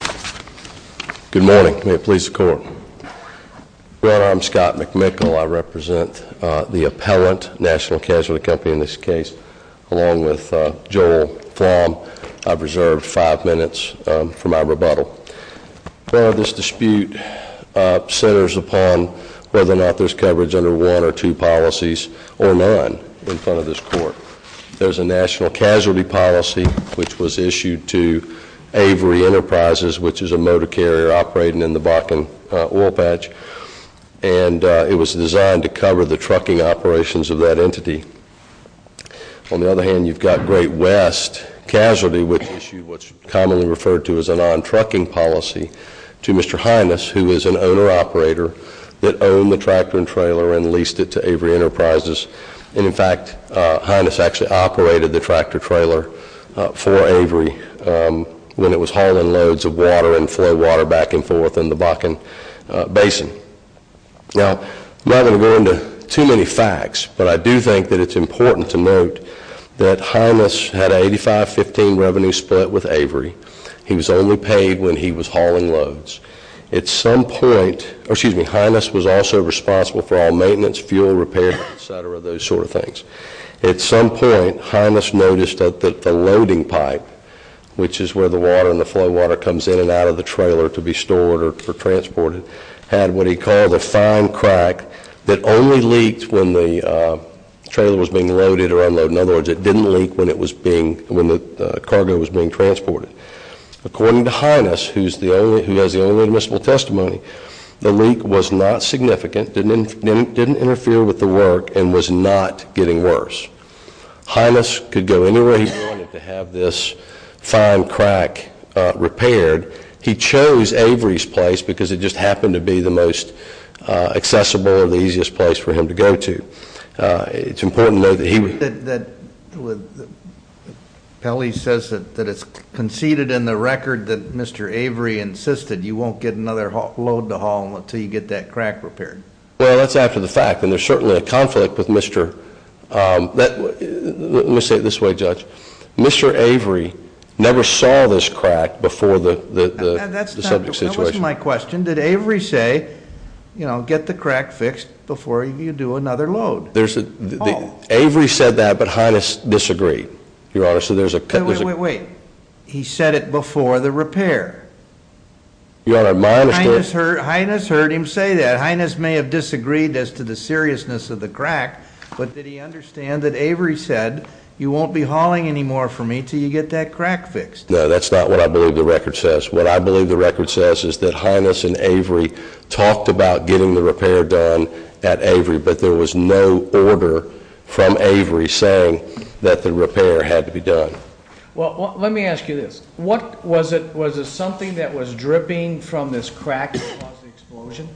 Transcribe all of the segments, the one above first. Good morning. May it please the court. Well, I'm Scott McMickle. I represent the Appellant National Casualty Company in this case along with Joel Flom. I've reserved five minutes for my rebuttal. Well, this dispute centers upon whether or not there's coverage under one or two policies or none in front of this court. There's a national casualty policy which was issued to Avery Enterprises, which is a motor carrier operating in the Bakken oil patch, and it was designed to cover the trucking operations of that entity. On the other hand, you've got Great West Casualty, which issued what's commonly referred to as a non-trucking policy to Mr. Heinous, who is an owner-operator that owned the tractor and trailer and leased it to Avery Enterprises. And in fact, Heinous actually operated the tractor-trailer for Avery when it was hauling loads of water and flow water back and forth in the Bakken Basin. Now, I'm not going to go into too many facts, but I do think that it's important to note that Heinous had an 85-15 revenue split with Avery. He was only paid when he was hauling loads. At some point, Heinous noticed that the loading pipe, which is where the water and the flow water comes in and out of the trailer to be stored or transported, had what he called a fine crack that only leaked when the trailer was being loaded or unloaded. In other words, it didn't leak when the cargo was being transported. According to Heinous, who has the only admissible testimony, the leak was not significant, didn't interfere with the work, and was not getting worse. Heinous could go anywhere he wanted to have this fine crack repaired. He chose Avery's place because it just happened to be the most accessible or the easiest place for him to go to. It's important to note that he... Pelley says that it's conceded in the record that Mr. Avery insisted you won't get another load to haul until you get that crack repaired. Well, that's after the fact, and there's certainly a conflict with Mr.... Let me say it this way, Judge. Mr. Avery never saw this crack before the subject situation. That wasn't my question. Did Avery say, you know, get the crack fixed before you do another load? Avery said that, but Heinous disagreed, Your Honor. So there's a... Wait, wait, wait, wait. He said it before the repair. Your Honor, my understanding... Heinous heard him say that. Heinous may have disagreed as to the seriousness of the crack, but did he understand that Avery said you won't be hauling anymore for me till you get that crack fixed? No, that's not what I believe the record says. What I believe the record says is that Heinous and Avery talked about getting the repair done at Avery, but there was no order from Avery saying that the repair had to be done. Well, let me ask you this. What was it... Was it something that was dripping from this crack that caused the explosion?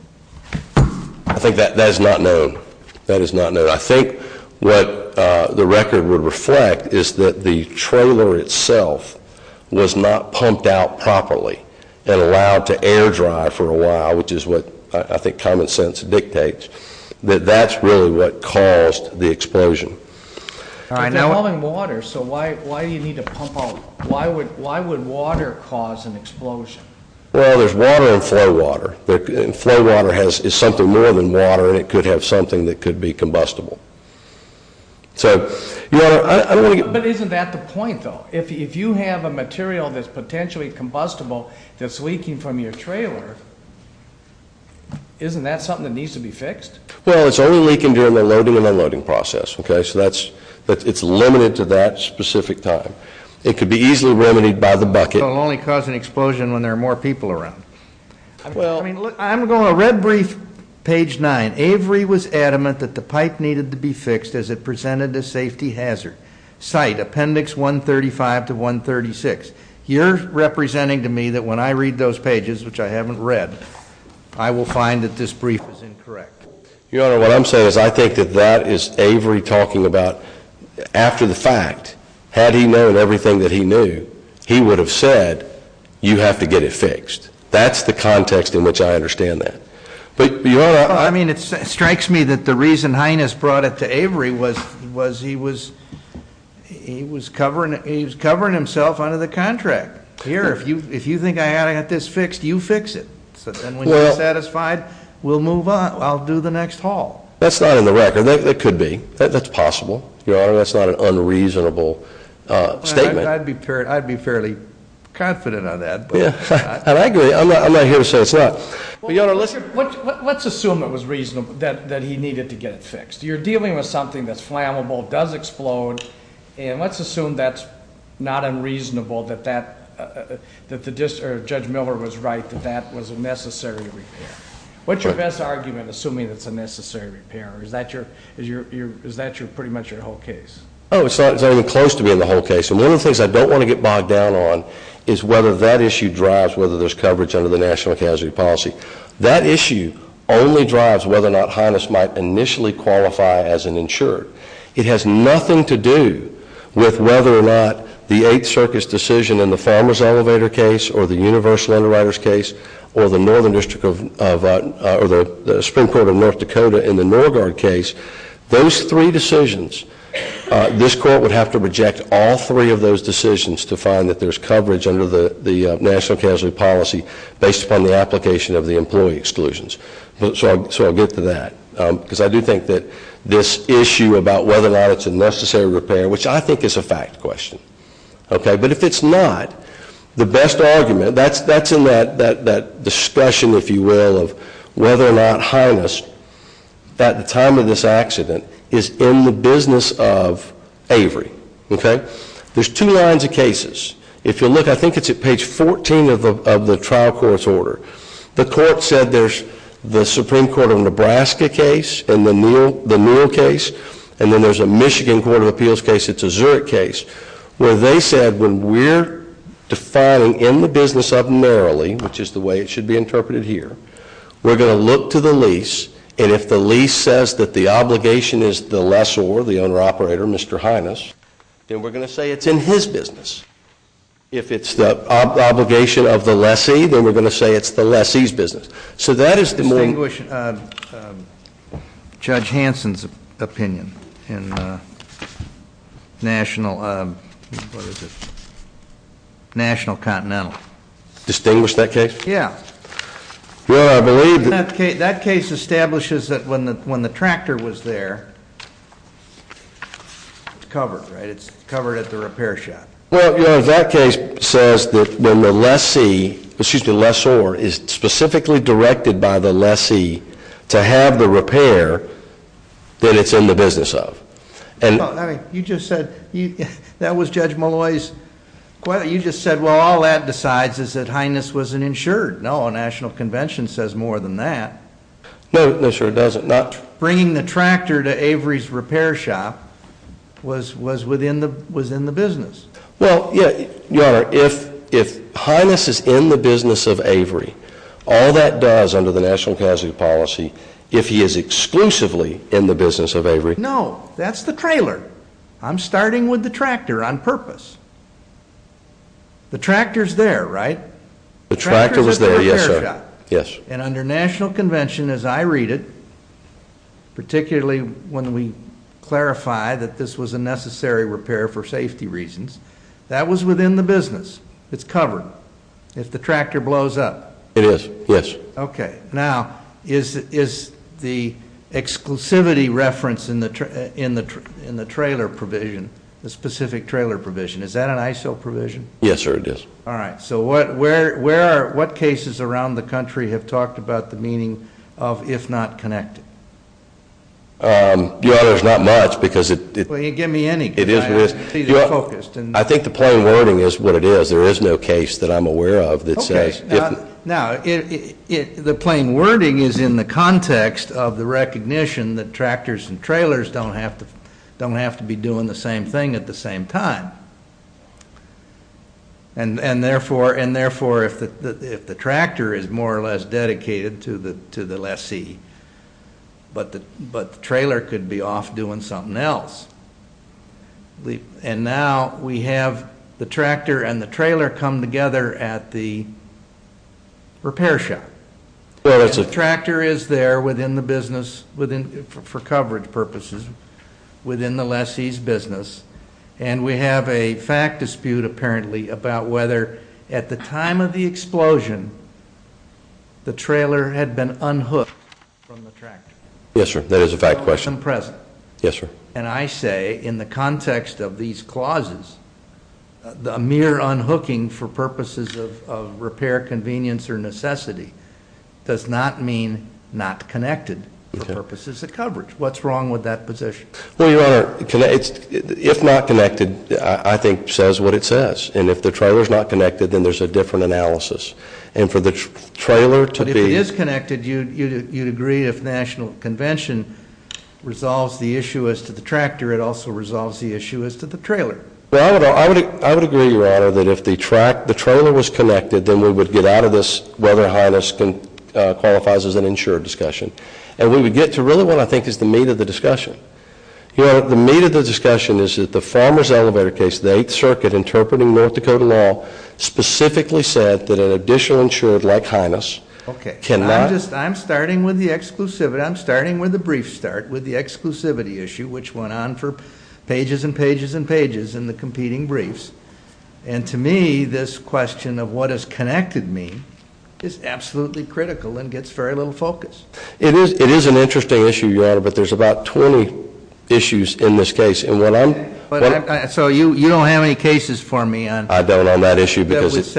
I think that that is not known. That is not known. I think what the record would reflect is that the trailer itself was not pumped out properly and allowed to air dry for a while, which is what I think common sense dictates, that that's really what caused the explosion. If you're hauling water, so why would water cause an explosion? Well, there's water in flow water. Flow water is something more than water and it could have something that could be combustible. But isn't that the point, though? If you have a material that's potentially combustible that's leaking from your trailer, isn't that something that needs to be fixed? Well, it's only leaking during the loading and unloading process, okay? So that's, but it's limited to that specific time. It could be easily remedied by the bucket. It'll only cause an explosion when there are more people around. Well, I'm going to read brief page 9. Avery was adamant that the pipe needed to be fixed as it presented a safety hazard. Cite appendix 135 to 136. You're representing to me that when I read those pages, which I haven't read, I will find that this brief is incorrect. Your Honor, what I'm saying is that I think that that is Avery talking about, after the fact, had he known everything that he knew, he would have said, you have to get it fixed. That's the context in which I understand that. But, Your Honor, I mean, it strikes me that the reason Highness brought it to Avery was, was he was, he was covering, he was covering himself under the contract. Here, if you, if you think I ought to get this fixed, you fix it. So then when you're satisfied, we'll move on. I'll do the next haul. That's not in the record. That could be. That's possible. Your Honor, that's not an unreasonable statement. I'd be, I'd be fairly confident on that. Yeah, I agree. I'm not here to say it's not. Your Honor, let's, let's assume it was reasonable that, that he needed to get it fixed. You're dealing with something that's flammable, does explode. And let's assume that's not unreasonable, that that, that the judge Miller was right, that that was a necessary repair. What's your best argument, assuming it's a necessary repair? Is that your, is your, is that your, pretty much your whole case? Oh, it's not, it's not even close to being the whole case. And one of the things I don't want to get bogged down on is whether that issue drives whether there's coverage under the national casualty policy. That issue only drives whether or not Highness might initially qualify as an insured. It has nothing to do with whether or not the Eighth Circus decision in the Farmer's Elevator case or the Universal Underwriters case or the Northern District of, or the Supreme Court of North Dakota in the Norgard case, those three decisions, this court would have to reject all three of those decisions to find that there's coverage under the, the national casualty policy based upon the application of the employee exclusions. So I'll, so I'll get to that. Because I do think that this issue about whether or not it's a necessary repair, which I think is a fact question. Okay, but if it's not, the best argument, that's, that's in that, that, that discussion, if you will, of whether or not Highness, at the time of this accident, is in the business of Avery. Okay? There's two lines of cases. If you look, I think it's at page 14 of the, of the trial court's order, the court said there's the Supreme Court of Nebraska case and the Neal, the Neal case, and then there's a Michigan Court of Appeals case, it's a Zurich case, where they said when we're defining in the business of narrowly, which is the way it should be interpreted here, we're going to look to the lease, and if the lease says that the obligation is the lessor, the owner-operator, Mr. Highness, then we're going to say it's in his business. If it's the obligation of the lessee, then we're going to say it's the lessee's business. So that is the- Distinguish Judge Hanson's opinion in National, what is it, National Continental. Distinguish that case? Yeah. Well, I believe- That case establishes that when the, when the tractor was there, it's covered, right? It's covered at the repair shop. Well, you know, that case says that when the lessee, excuse me, lessor is specifically directed by the lessee to have the repair that it's in the business of. You just said, that was Judge Malloy's, you just said, well, all that decides is that Highness was an insured. No, National Convention says more than that. No, no sir, it doesn't. Bringing the tractor to Avery's repair shop was, was within the, was in the business. Well, yeah, Your Honor, if, if Highness is in the business of Avery, all that does under the National Casualty Policy, if he is exclusively in the business of Avery- No, that's the trailer. I'm starting with the tractor on purpose. The tractor's there, right? The tractor was there, yes sir. And under National Convention, as I read it, particularly when we clarify that this was a necessary repair for safety reasons, that was within the business. It's covered. If the tractor blows up- It is, yes. Okay, now, is, is the exclusivity reference in the trailer provision, the specific trailer provision, is that an ISO provision? Yes sir, it is. All right, so what, where, where are, what cases around the country have talked about the meaning of if not connected? Your Honor, there's not much because it- Well, you can give me any. It is, it is. I'm completely focused. I think the plain wording is what it is. There is no case that I'm aware of that says- Okay, now, now, it, it, the plain wording is in the context of the recognition that tractors and trailers don't have to, don't have to be doing the same thing at the same time. And, and therefore, and therefore, if the, if the tractor is more or less dedicated to the, to the lessee, but the, but the trailer could be off doing something else. We, and now we have the tractor and the trailer come together at the repair shop. The tractor is there within the business, within, for coverage purposes, within the lessee's business. And we have a fact dispute, apparently, about whether at the time of the explosion, the trailer had been unhooked from the tractor. Yes sir, that is a fact question. Yes sir. And I say, in the context of these clauses, the mere unhooking for purposes of repair convenience or necessity does not mean not connected for purposes of coverage. What's wrong with that position? Well, Your Honor, if not connected, I think says what it says. And if the trailer's not connected, then there's a different analysis. And for the trailer to be- You'd agree if National Convention resolves the issue as to the tractor, it also resolves the issue as to the trailer. Well, I would, I would, I would agree, Your Honor, that if the track, the trailer was connected, then we would get out of this whether Highness can, qualifies as an insured discussion. And we would get to really what I think is the meat of the discussion. Your Honor, the meat of the discussion is that the Farmer's Elevator case, the 8th Circuit interpreting North Dakota law, specifically said that an additional insured like Highness- Okay. Can not- I'm just, I'm starting with the exclusivity, I'm starting with the brief start with the exclusivity issue, which went on for pages and pages and pages in the competing briefs. And to me, this question of what is connected mean is absolutely critical and gets very little focus. It is, it is an interesting issue, Your Honor, but there's about 20 issues in this case, and what I'm- Okay, but I, so you, you don't have any cases for me on- I don't on that issue because it's-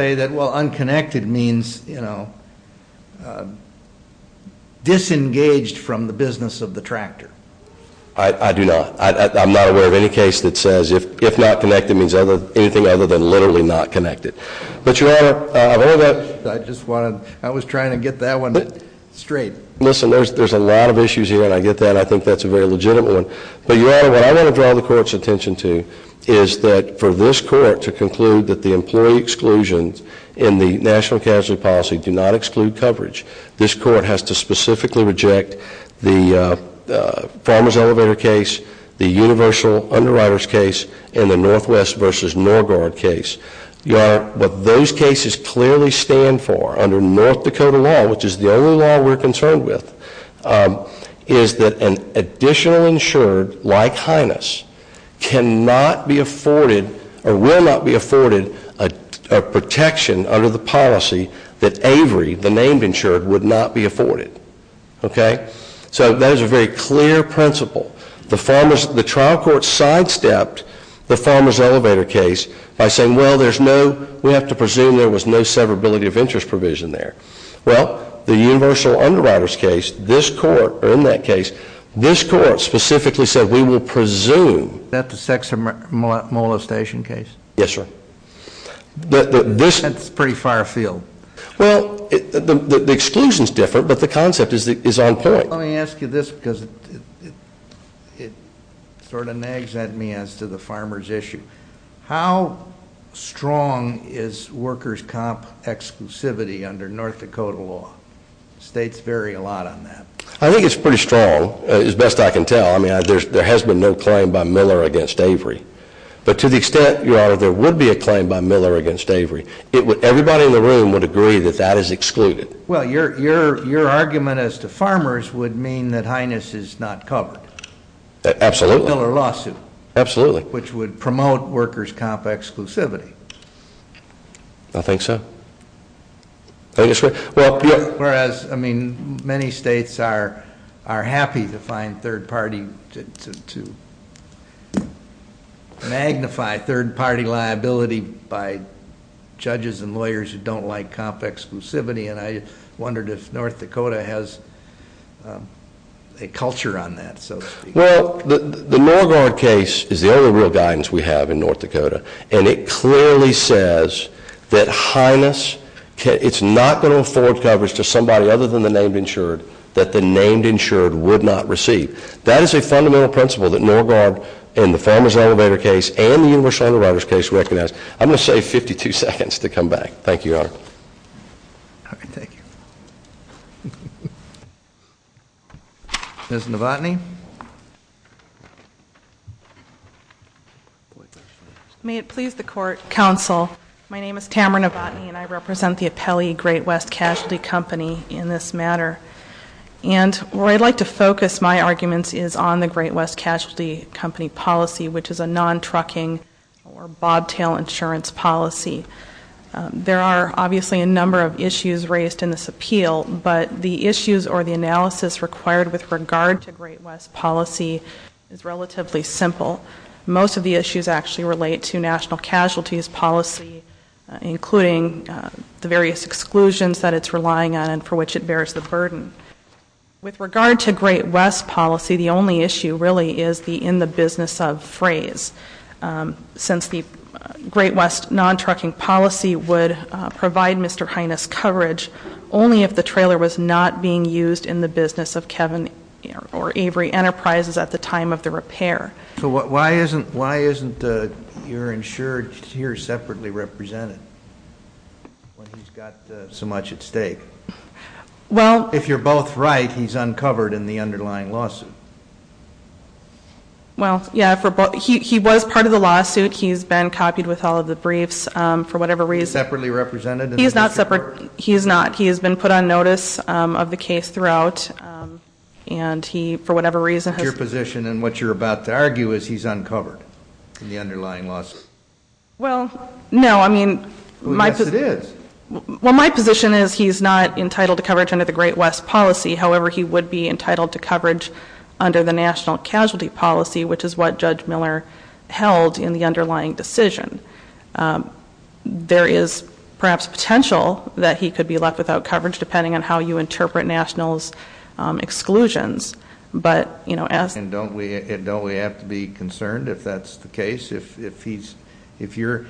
Disengaged from the business of the tractor. I, I do not. I, I, I'm not aware of any case that says if, if not connected means other, anything other than literally not connected. But Your Honor, I've heard that- I just wanted, I was trying to get that one straight. Listen, there's, there's a lot of issues here, and I get that, I think that's a very legitimate one. But Your Honor, what I want to draw the court's attention to is that for this court to conclude that the employee exclusions in the National Casualty Policy do not exclude coverage, this court has to specifically reject the Farmer's Elevator case, the Universal Underwriters case, and the Northwest versus NorGuard case. Your Honor, what those cases clearly stand for under North Dakota law, which is the only law we're concerned with, is that an additional insured, like Hyness, cannot be afforded, or will not be afforded, a protection under the policy that Avery, the named insured, would not be afforded. Okay? So that is a very clear principle. The Farmer's, the trial court sidestepped the Farmer's Elevator case by saying, well, there's no, we have to presume there was no severability of interest provision there. Well, the Universal Underwriters case, this court, or in that case, this court specifically said we will presume. Is that the Sex and Molestation case? Yes, sir. That's pretty far afield. Well, the exclusions differ, but the concept is on point. Let me ask you this, because it sort of nags at me as to the farmer's issue. How strong is workers' comp exclusivity under North Dakota law? States vary a lot on that. I think it's pretty strong, as best I can tell. I mean, there has been no claim by Miller against Avery. But to the extent, Your Honor, there would be a claim by Miller against Avery, everybody in the room would agree that that is excluded. Well, your argument as to farmers would mean that Highness is not covered. Absolutely. Miller lawsuit. Absolutely. Which would promote workers' comp exclusivity. I think so. I think it's fair. Whereas, I mean, many states are happy to magnify third-party liability by judges and lawyers who don't like comp exclusivity. And I wondered if North Dakota has a culture on that. Well, the Norguard case is the only real guidance we have in North Dakota. And it clearly says that Highness, it's not going to afford coverage to somebody other than the named insured that the named insured would not receive. That is a fundamental principle that Norguard and the Farmers Elevator case and the Universal Underwriters case recognize. I'm going to save 52 seconds to come back. Thank you, Your Honor. All right, thank you. Ms. Novotny. May it please the court, counsel, my name is Tamara Novotny, and I represent the Appellee Great West Casualty Company in this matter. And where I'd like to focus my arguments is on the Great West Casualty Company policy, which is a non-trucking or bobtail insurance policy. There are obviously a number of issues raised in this appeal, but the issues or the analysis required with regard to Great West policy is relatively simple. Most of the issues actually relate to national casualties policy, including the various exclusions that it's relying on and for which it bears the burden. With regard to Great West policy, the only issue really is the in-the-business-of phrase. Since the Great West non-trucking policy would provide Mr. Hines coverage only if the trailer was not being used in the business of Kevin or Avery Enterprises at the time of the repair. So why isn't your insured here separately represented when he's got so much at stake? Well- If you're both right, he's uncovered in the underlying lawsuit. Well, yeah, he was part of the lawsuit. He's been copied with all of the briefs for whatever reason. Separately represented? He's not. He's not. He has been put on notice of the case throughout. And he, for whatever reason- Your position and what you're about to argue is he's uncovered in the underlying lawsuit. Well, no. I mean- Yes, it is. Well, my position is he's not entitled to coverage under the Great West policy. However, he would be entitled to coverage under the national casualty policy, which is what Judge Miller held in the underlying decision. There is perhaps potential that he could be left without coverage, depending on how you interpret nationals' exclusions. But, you know, as- And don't we have to be concerned if that's the case? If your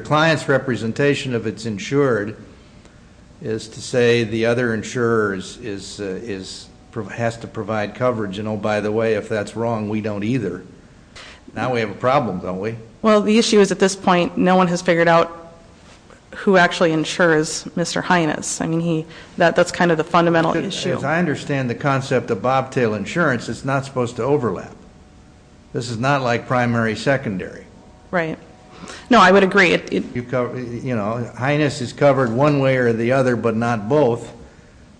client's representation of it's insured is to say the other insurer has to provide coverage. And, oh, by the way, if that's wrong, we don't either. Now we have a problem, don't we? Well, the issue is at this point, no one has figured out who actually insures Mr. Hyannis. I mean, that's kind of the fundamental issue. I understand the concept of bobtail insurance. It's not supposed to overlap. This is not like primary-secondary. Right. No, I would agree. You know, Hyannis is covered one way or the other, but not both.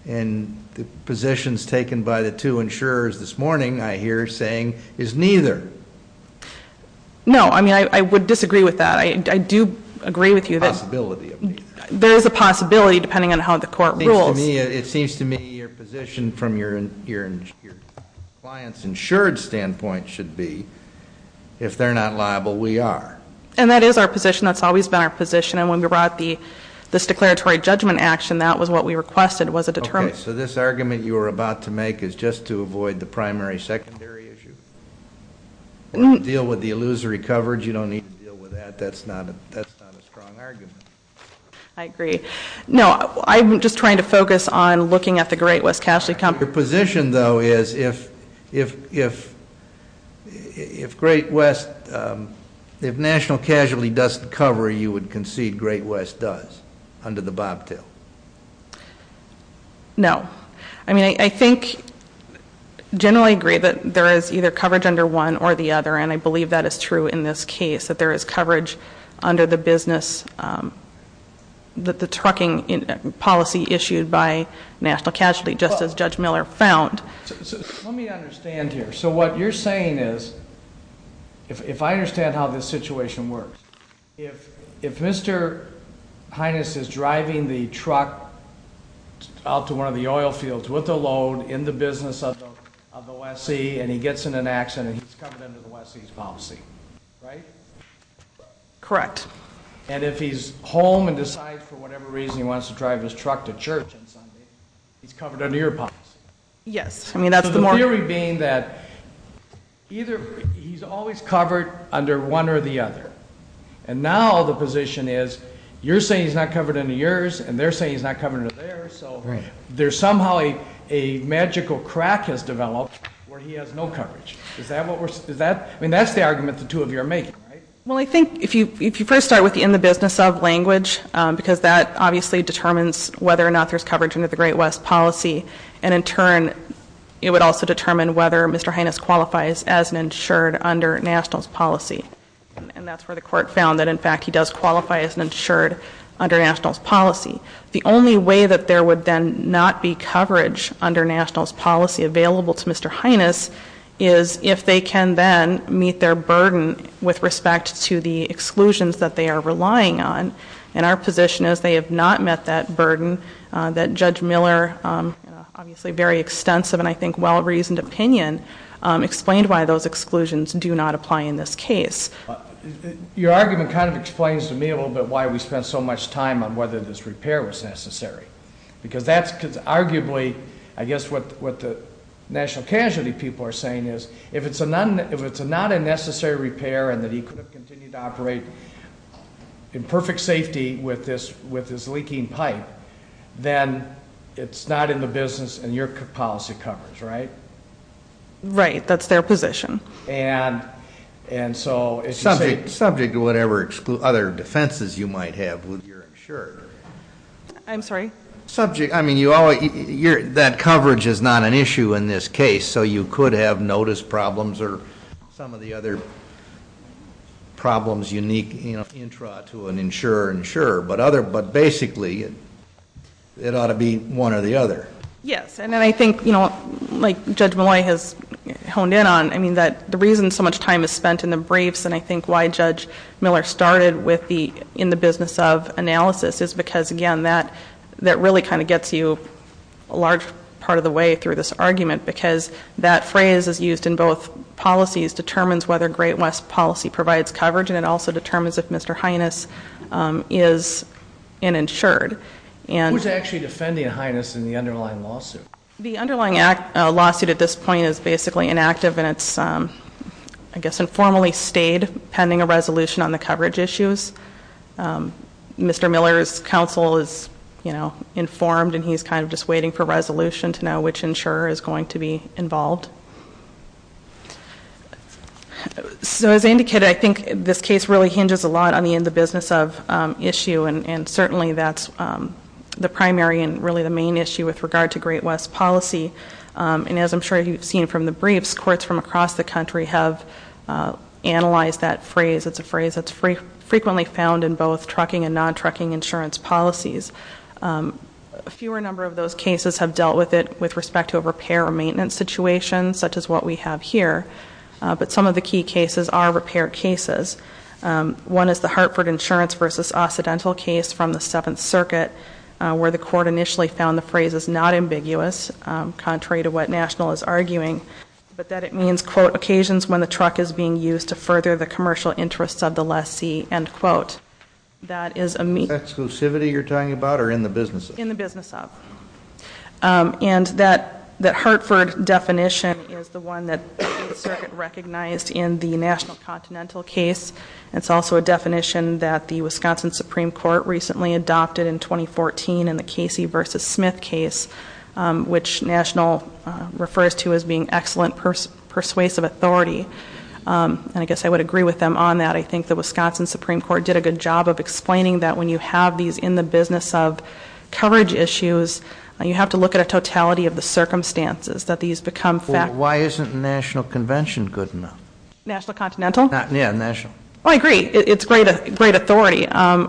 And the positions taken by the two insurers this morning, I hear saying, is neither. No, I mean, I would disagree with that. I do agree with you that- Possibility of neither. There is a possibility, depending on how the court rules. It seems to me your position from your client's insured standpoint should be, if they're not liable, we are. And that is our position. That's always been our position. And when we brought this declaratory judgment action, that was what we requested. Okay, so this argument you were about to make is just to avoid the primary-secondary issue? Deal with the illusory coverage. You don't need to deal with that. That's not a strong argument. I agree. No, I'm just trying to focus on looking at the Great West Casualty Company. Your position, though, is if Great West, if National Casualty doesn't cover, you would concede Great West does, under the bobtail? No. I mean, I think, generally agree that there is either coverage under one or the other, and I believe that is true in this case, that there is coverage under the business, the trucking policy issued by National Casualty, just as Judge Miller found. Let me understand here. So what you're saying is, if I understand how this situation works, if Mr. Hines is driving the truck out to one of the oil fields with a load in the business of the West Sea, and he gets in an accident, he's covered under the West Sea's policy, right? Correct. And if he's home and decides, for whatever reason, he wants to drive his truck to church on Sunday, he's covered under your policy? Yes. So the theory being that he's always covered under one or the other. And now the position is, you're saying he's not covered under yours, and they're saying he's not covered under theirs, so there's somehow a magical crack has developed where he has no coverage. I mean, that's the argument the two of you are making, right? Well, I think if you first start with the in the business of language, because that obviously determines whether or not there's coverage under the Great West policy, and in turn it would also determine whether Mr. Hines qualifies as an insured under National's policy. And that's where the court found that, in fact, he does qualify as an insured under National's policy. The only way that there would then not be coverage under National's policy available to Mr. Hines is if they can then meet their burden with respect to the exclusions that they are relying on. And our position is they have not met that burden that Judge Miller, obviously a very extensive and I think well-reasoned opinion, explained why those exclusions do not apply in this case. Your argument kind of explains to me a little bit why we spent so much time on whether this repair was necessary. Because that's arguably, I guess what the national casualty people are saying is, if it's not a necessary repair and that he could continue to operate in perfect safety with this leaking pipe, then it's not in the business and your policy covers, right? Right, that's their position. And so- Subject to whatever other defenses you might have with your insurer. I'm sorry? Subject, I mean, that coverage is not an issue in this case, so you could have notice problems or some of the other problems unique, you know, intra to an insurer, insurer, but basically it ought to be one or the other. Yes, and then I think, you know, like Judge Miller has honed in on, I mean, the reason so much time is spent in the briefs and I think why Judge Miller started with the in the business of analysis is because, again, that really kind of gets you a large part of the way through this argument, because that phrase is used in both policies determines whether Great West policy provides coverage and it also determines if Mr. Hyness is an insured. Who's actually defending Hyness in the underlying lawsuit? The underlying lawsuit at this point is basically inactive and it's, I guess, informally stayed pending a resolution on the coverage issues. Mr. Miller's counsel is, you know, informed and he's kind of just waiting for a resolution to know which insurer is going to be involved. So as I indicated, I think this case really hinges a lot on the in the business of issue and certainly that's the primary and really the main issue with regard to Great West policy. And as I'm sure you've seen from the briefs, courts from across the country have analyzed that phrase. It's a phrase that's frequently found in both trucking and non-trucking insurance policies. A fewer number of those cases have dealt with it with respect to a repair or maintenance situation, such as what we have here. But some of the key cases are repair cases. One is the Hartford Insurance v. Occidental case from the Seventh Circuit, where the court initially found the phrase is not ambiguous, contrary to what National is arguing, but that it means, quote, occasions when the truck is being used to further the commercial interests of the lessee, end quote. That is a meaning. Is that exclusivity you're talking about or in the business of? In the business of. And that Hartford definition is the one that the Circuit recognized in the National Continental case. It's also a definition that the Wisconsin Supreme Court recently adopted in 2014 in the Casey v. Smith case, which National refers to as being excellent persuasive authority. And I guess I would agree with them on that. I think the Wisconsin Supreme Court did a good job of explaining that when you have these in the business of coverage issues, you have to look at a totality of the circumstances that these become facts. Well, why isn't the National Convention good enough? National Continental? Yeah, National. Oh, I agree. It's great authority. Well,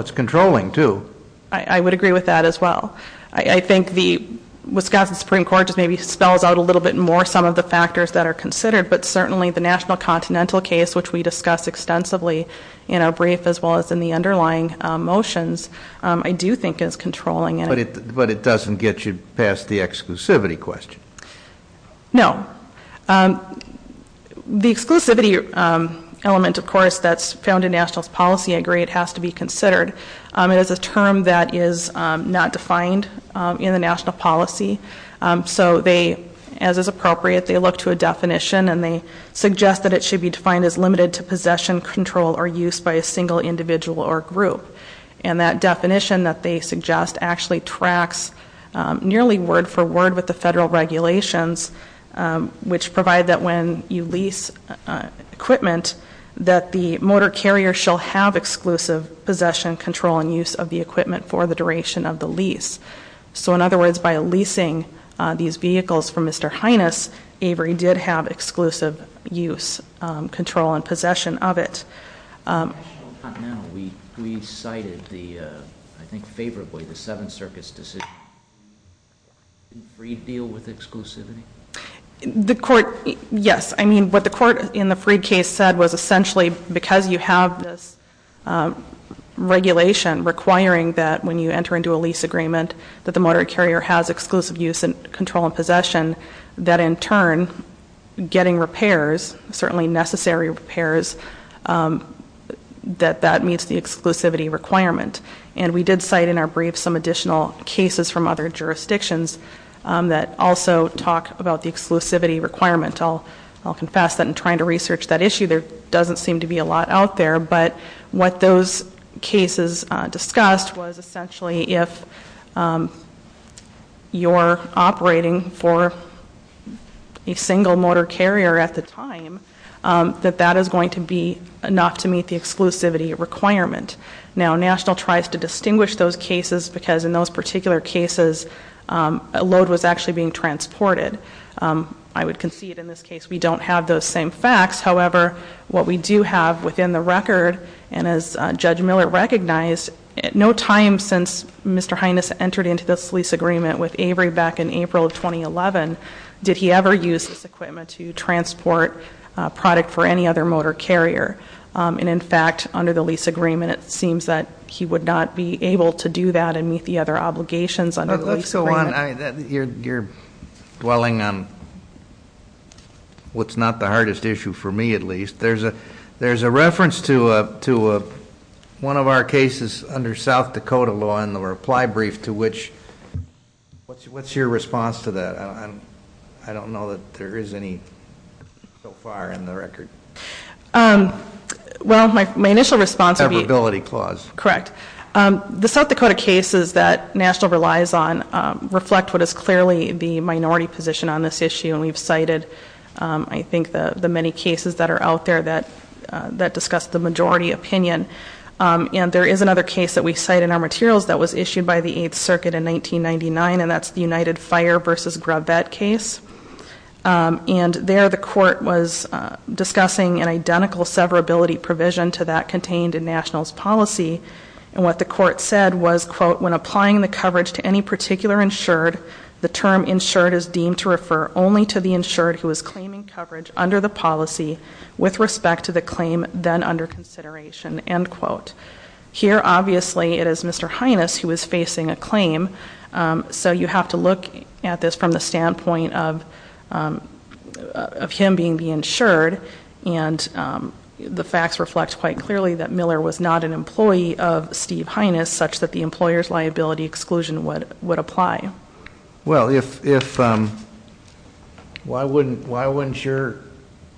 it's controlling, too. I would agree with that as well. I think the Wisconsin Supreme Court just maybe spells out a little bit more some of the factors that are considered. But certainly the National Continental case, which we discussed extensively in our brief as well as in the underlying motions, I do think is controlling. But it doesn't get you past the exclusivity question? No. The exclusivity element, of course, that's found in National's policy, I agree it has to be considered. It is a term that is not defined in the National policy. So they, as is appropriate, they look to a definition and they suggest that it should be defined as limited to possession, control, or use by a single individual or group. And that definition that they suggest actually tracks nearly word for word with the federal regulations, which provide that when you lease equipment, that the motor carrier shall have exclusive possession, control, and use of the equipment for the duration of the lease. So in other words, by leasing these vehicles from Mr. Hynes, Avery did have exclusive use, control, and possession of it. We cited the, I think favorably, the Seven Circus decision. Did Freed deal with exclusivity? The court, yes. I mean, what the court in the Freed case said was essentially because you have this regulation requiring that when you enter into a lease agreement that the motor carrier has exclusive use and control and possession, that in turn getting repairs, certainly necessary repairs, that that meets the exclusivity requirement. And we did cite in our brief some additional cases from other jurisdictions that also talk about the exclusivity requirement. I'll confess that in trying to research that issue, there doesn't seem to be a lot out there. But what those cases discussed was essentially if you're operating for a single motor carrier at the time, that that is going to be enough to meet the exclusivity requirement. Now, National tries to distinguish those cases because in those particular cases, a load was actually being transported. I would concede in this case we don't have those same facts. However, what we do have within the record, and as Judge Miller recognized, at no time since Mr. Hines entered into this lease agreement with Avery back in April of 2011, did he ever use this equipment to transport product for any other motor carrier. And in fact, under the lease agreement, it seems that he would not be able to do that and meet the other obligations under the lease agreement. So on, you're dwelling on what's not the hardest issue, for me at least. There's a reference to one of our cases under South Dakota law in the reply brief to which, what's your response to that? I don't know that there is any so far in the record. Well, my initial response would be- Approbability clause. Correct. The South Dakota cases that National relies on reflect what is clearly the minority position on this issue, and we've cited, I think, the many cases that are out there that discuss the majority opinion. And there is another case that we cite in our materials that was issued by the Eighth Circuit in 1999, and that's the United Fire v. Gravette case. And there the court was discussing an identical severability provision to that contained in National's policy, and what the court said was, quote, when applying the coverage to any particular insured, the term insured is deemed to refer only to the insured who is claiming coverage under the policy with respect to the claim then under consideration, end quote. Here, obviously, it is Mr. Hines who is facing a claim, so you have to look at this from the standpoint of him being the insured, and the facts reflect quite clearly that Miller was not an employee of Steve Hines, such that the employer's liability exclusion would apply. Well, if- Why wouldn't your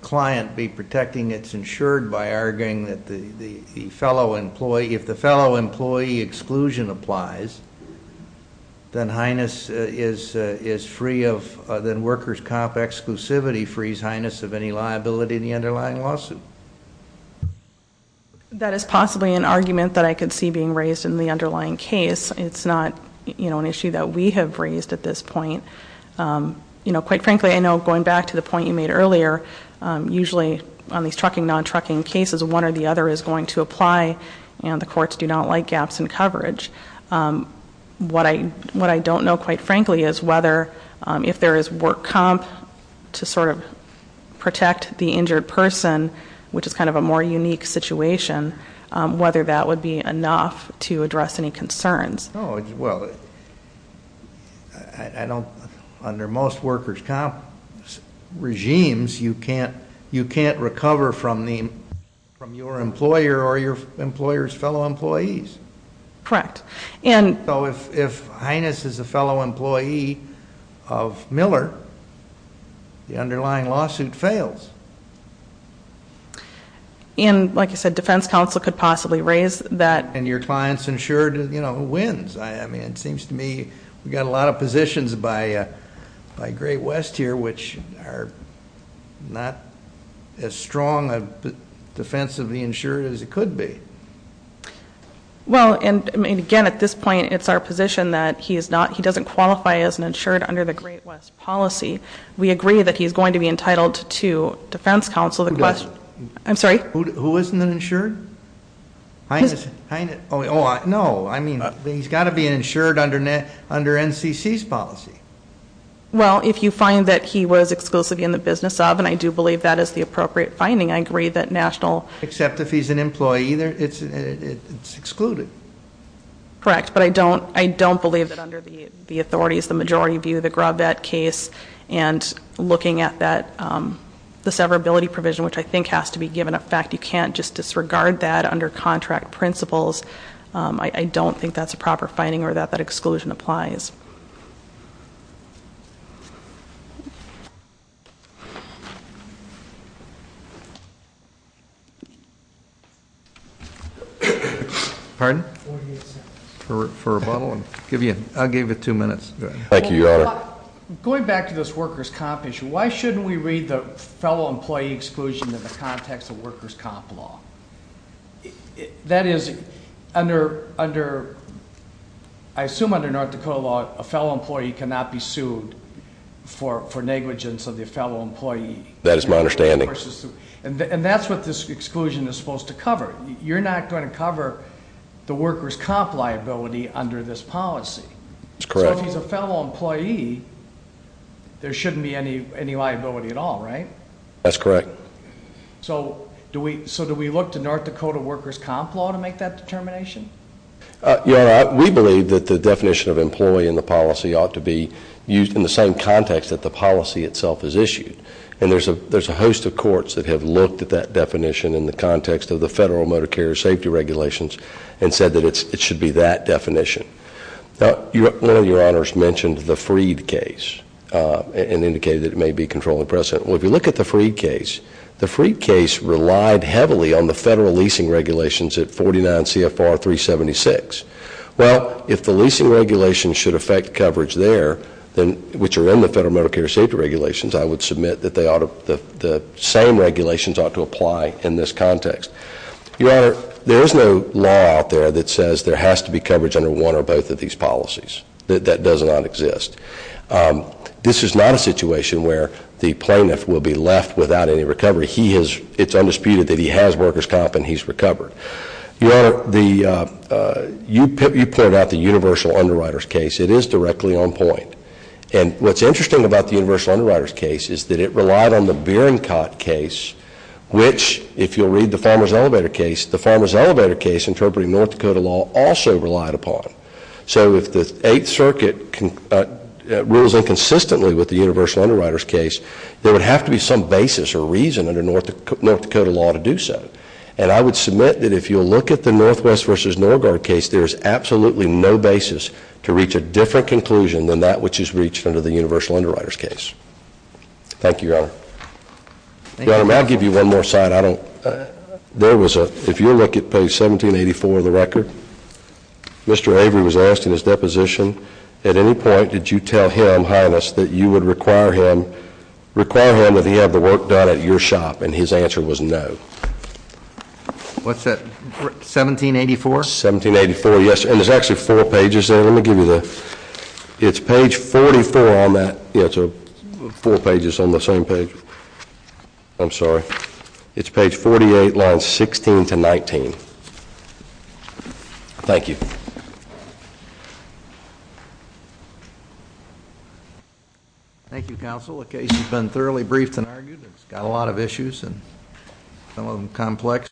client be protecting its insured by arguing that the fellow employee- Then Hines is free of- Then worker's comp exclusivity frees Hines of any liability in the underlying lawsuit. That is possibly an argument that I could see being raised in the underlying case. It's not, you know, an issue that we have raised at this point. You know, quite frankly, I know going back to the point you made earlier, usually on these trucking, non-trucking cases, one or the other is going to apply, and the courts do not like gaps in coverage. What I don't know, quite frankly, is whether if there is work comp to sort of protect the injured person, which is kind of a more unique situation, whether that would be enough to address any concerns. No, well, I don't- Under most worker's comp regimes, you can't recover from your employer or your employer's fellow employees. Correct. So if Hines is a fellow employee of Miller, the underlying lawsuit fails. And, like I said, defense counsel could possibly raise that- And your client's insured wins. I mean, it seems to me we've got a lot of positions by Great West here which are not as strong a defense of the insured as it could be. Well, and again, at this point, it's our position that he doesn't qualify as an insured under the Great West policy. We agree that he's going to be entitled to defense counsel- Who doesn't? I'm sorry? Who isn't an insured? Hines- No, I mean, he's got to be insured under NCC's policy. Well, if you find that he was exclusively in the business of, and I do believe that is the appropriate finding, I agree that national- It's excluded. Correct, but I don't believe that under the authorities, the majority view of the Graubat case, and looking at the severability provision, which I think has to be given a fact, you can't just disregard that under contract principles. I don't think that's a proper finding or that that exclusion applies. Pardon? 48 seconds. For rebuttal? I'll give you two minutes. Thank you, Your Honor. Going back to this workers' comp issue, why shouldn't we read the fellow employee exclusion in the context of workers' comp law? That is, I assume under North Dakota law, a fellow employee cannot be sued for negligence of the fellow employee. That is my understanding. And that's what this exclusion is supposed to cover. You're not going to cover the workers' comp liability under this policy. That's correct. So if he's a fellow employee, there shouldn't be any liability at all, right? That's correct. So do we look to North Dakota workers' comp law to make that determination? Your Honor, we believe that the definition of employee in the policy ought to be used in the same context that the policy itself is issued. And there's a host of courts that have looked at that definition in the context of the federal motor carrier safety regulations and said that it should be that definition. One of Your Honors mentioned the Freed case and indicated that it may be controlling precedent. Well, if you look at the Freed case, the Freed case relied heavily on the federal leasing regulations at 49 CFR 376. Well, if the leasing regulations should affect coverage there, which are in the federal motor carrier safety regulations, I would submit that the same regulations ought to apply in this context. Your Honor, there is no law out there that says there has to be coverage under one or both of these policies. That does not exist. This is not a situation where the plaintiff will be left without any recovery. It's undisputed that he has workers' comp and he's recovered. Your Honor, you pointed out the universal underwriter's case. It is directly on point. And what's interesting about the universal underwriter's case is that it relied on the Beering Cot case, which if you'll read the Farmer's Elevator case, the Farmer's Elevator case interpreting North Dakota law also relied upon. So if the Eighth Circuit rules inconsistently with the universal underwriter's case, there would have to be some basis or reason under North Dakota law to do so. And I would submit that if you'll look at the Northwest v. Norguard case, there is absolutely no basis to reach a different conclusion than that which is reached under the universal underwriter's case. Thank you, Your Honor. Your Honor, may I give you one more side? There was a—if you'll look at page 1784 of the record, Mr. Avery was asked in his deposition, at any point did you tell him, Highness, that you would require him that he have the work done at your shop? And his answer was no. What's that? 1784? 1784, yes. And there's actually four pages there. Let me give you the—it's page 44 on that. Yeah, so four pages on the same page. I'm sorry. It's page 48, lines 16 to 19. Thank you. Thank you, counsel. The case has been thoroughly briefed and argued. It's got a lot of issues, some of them complex.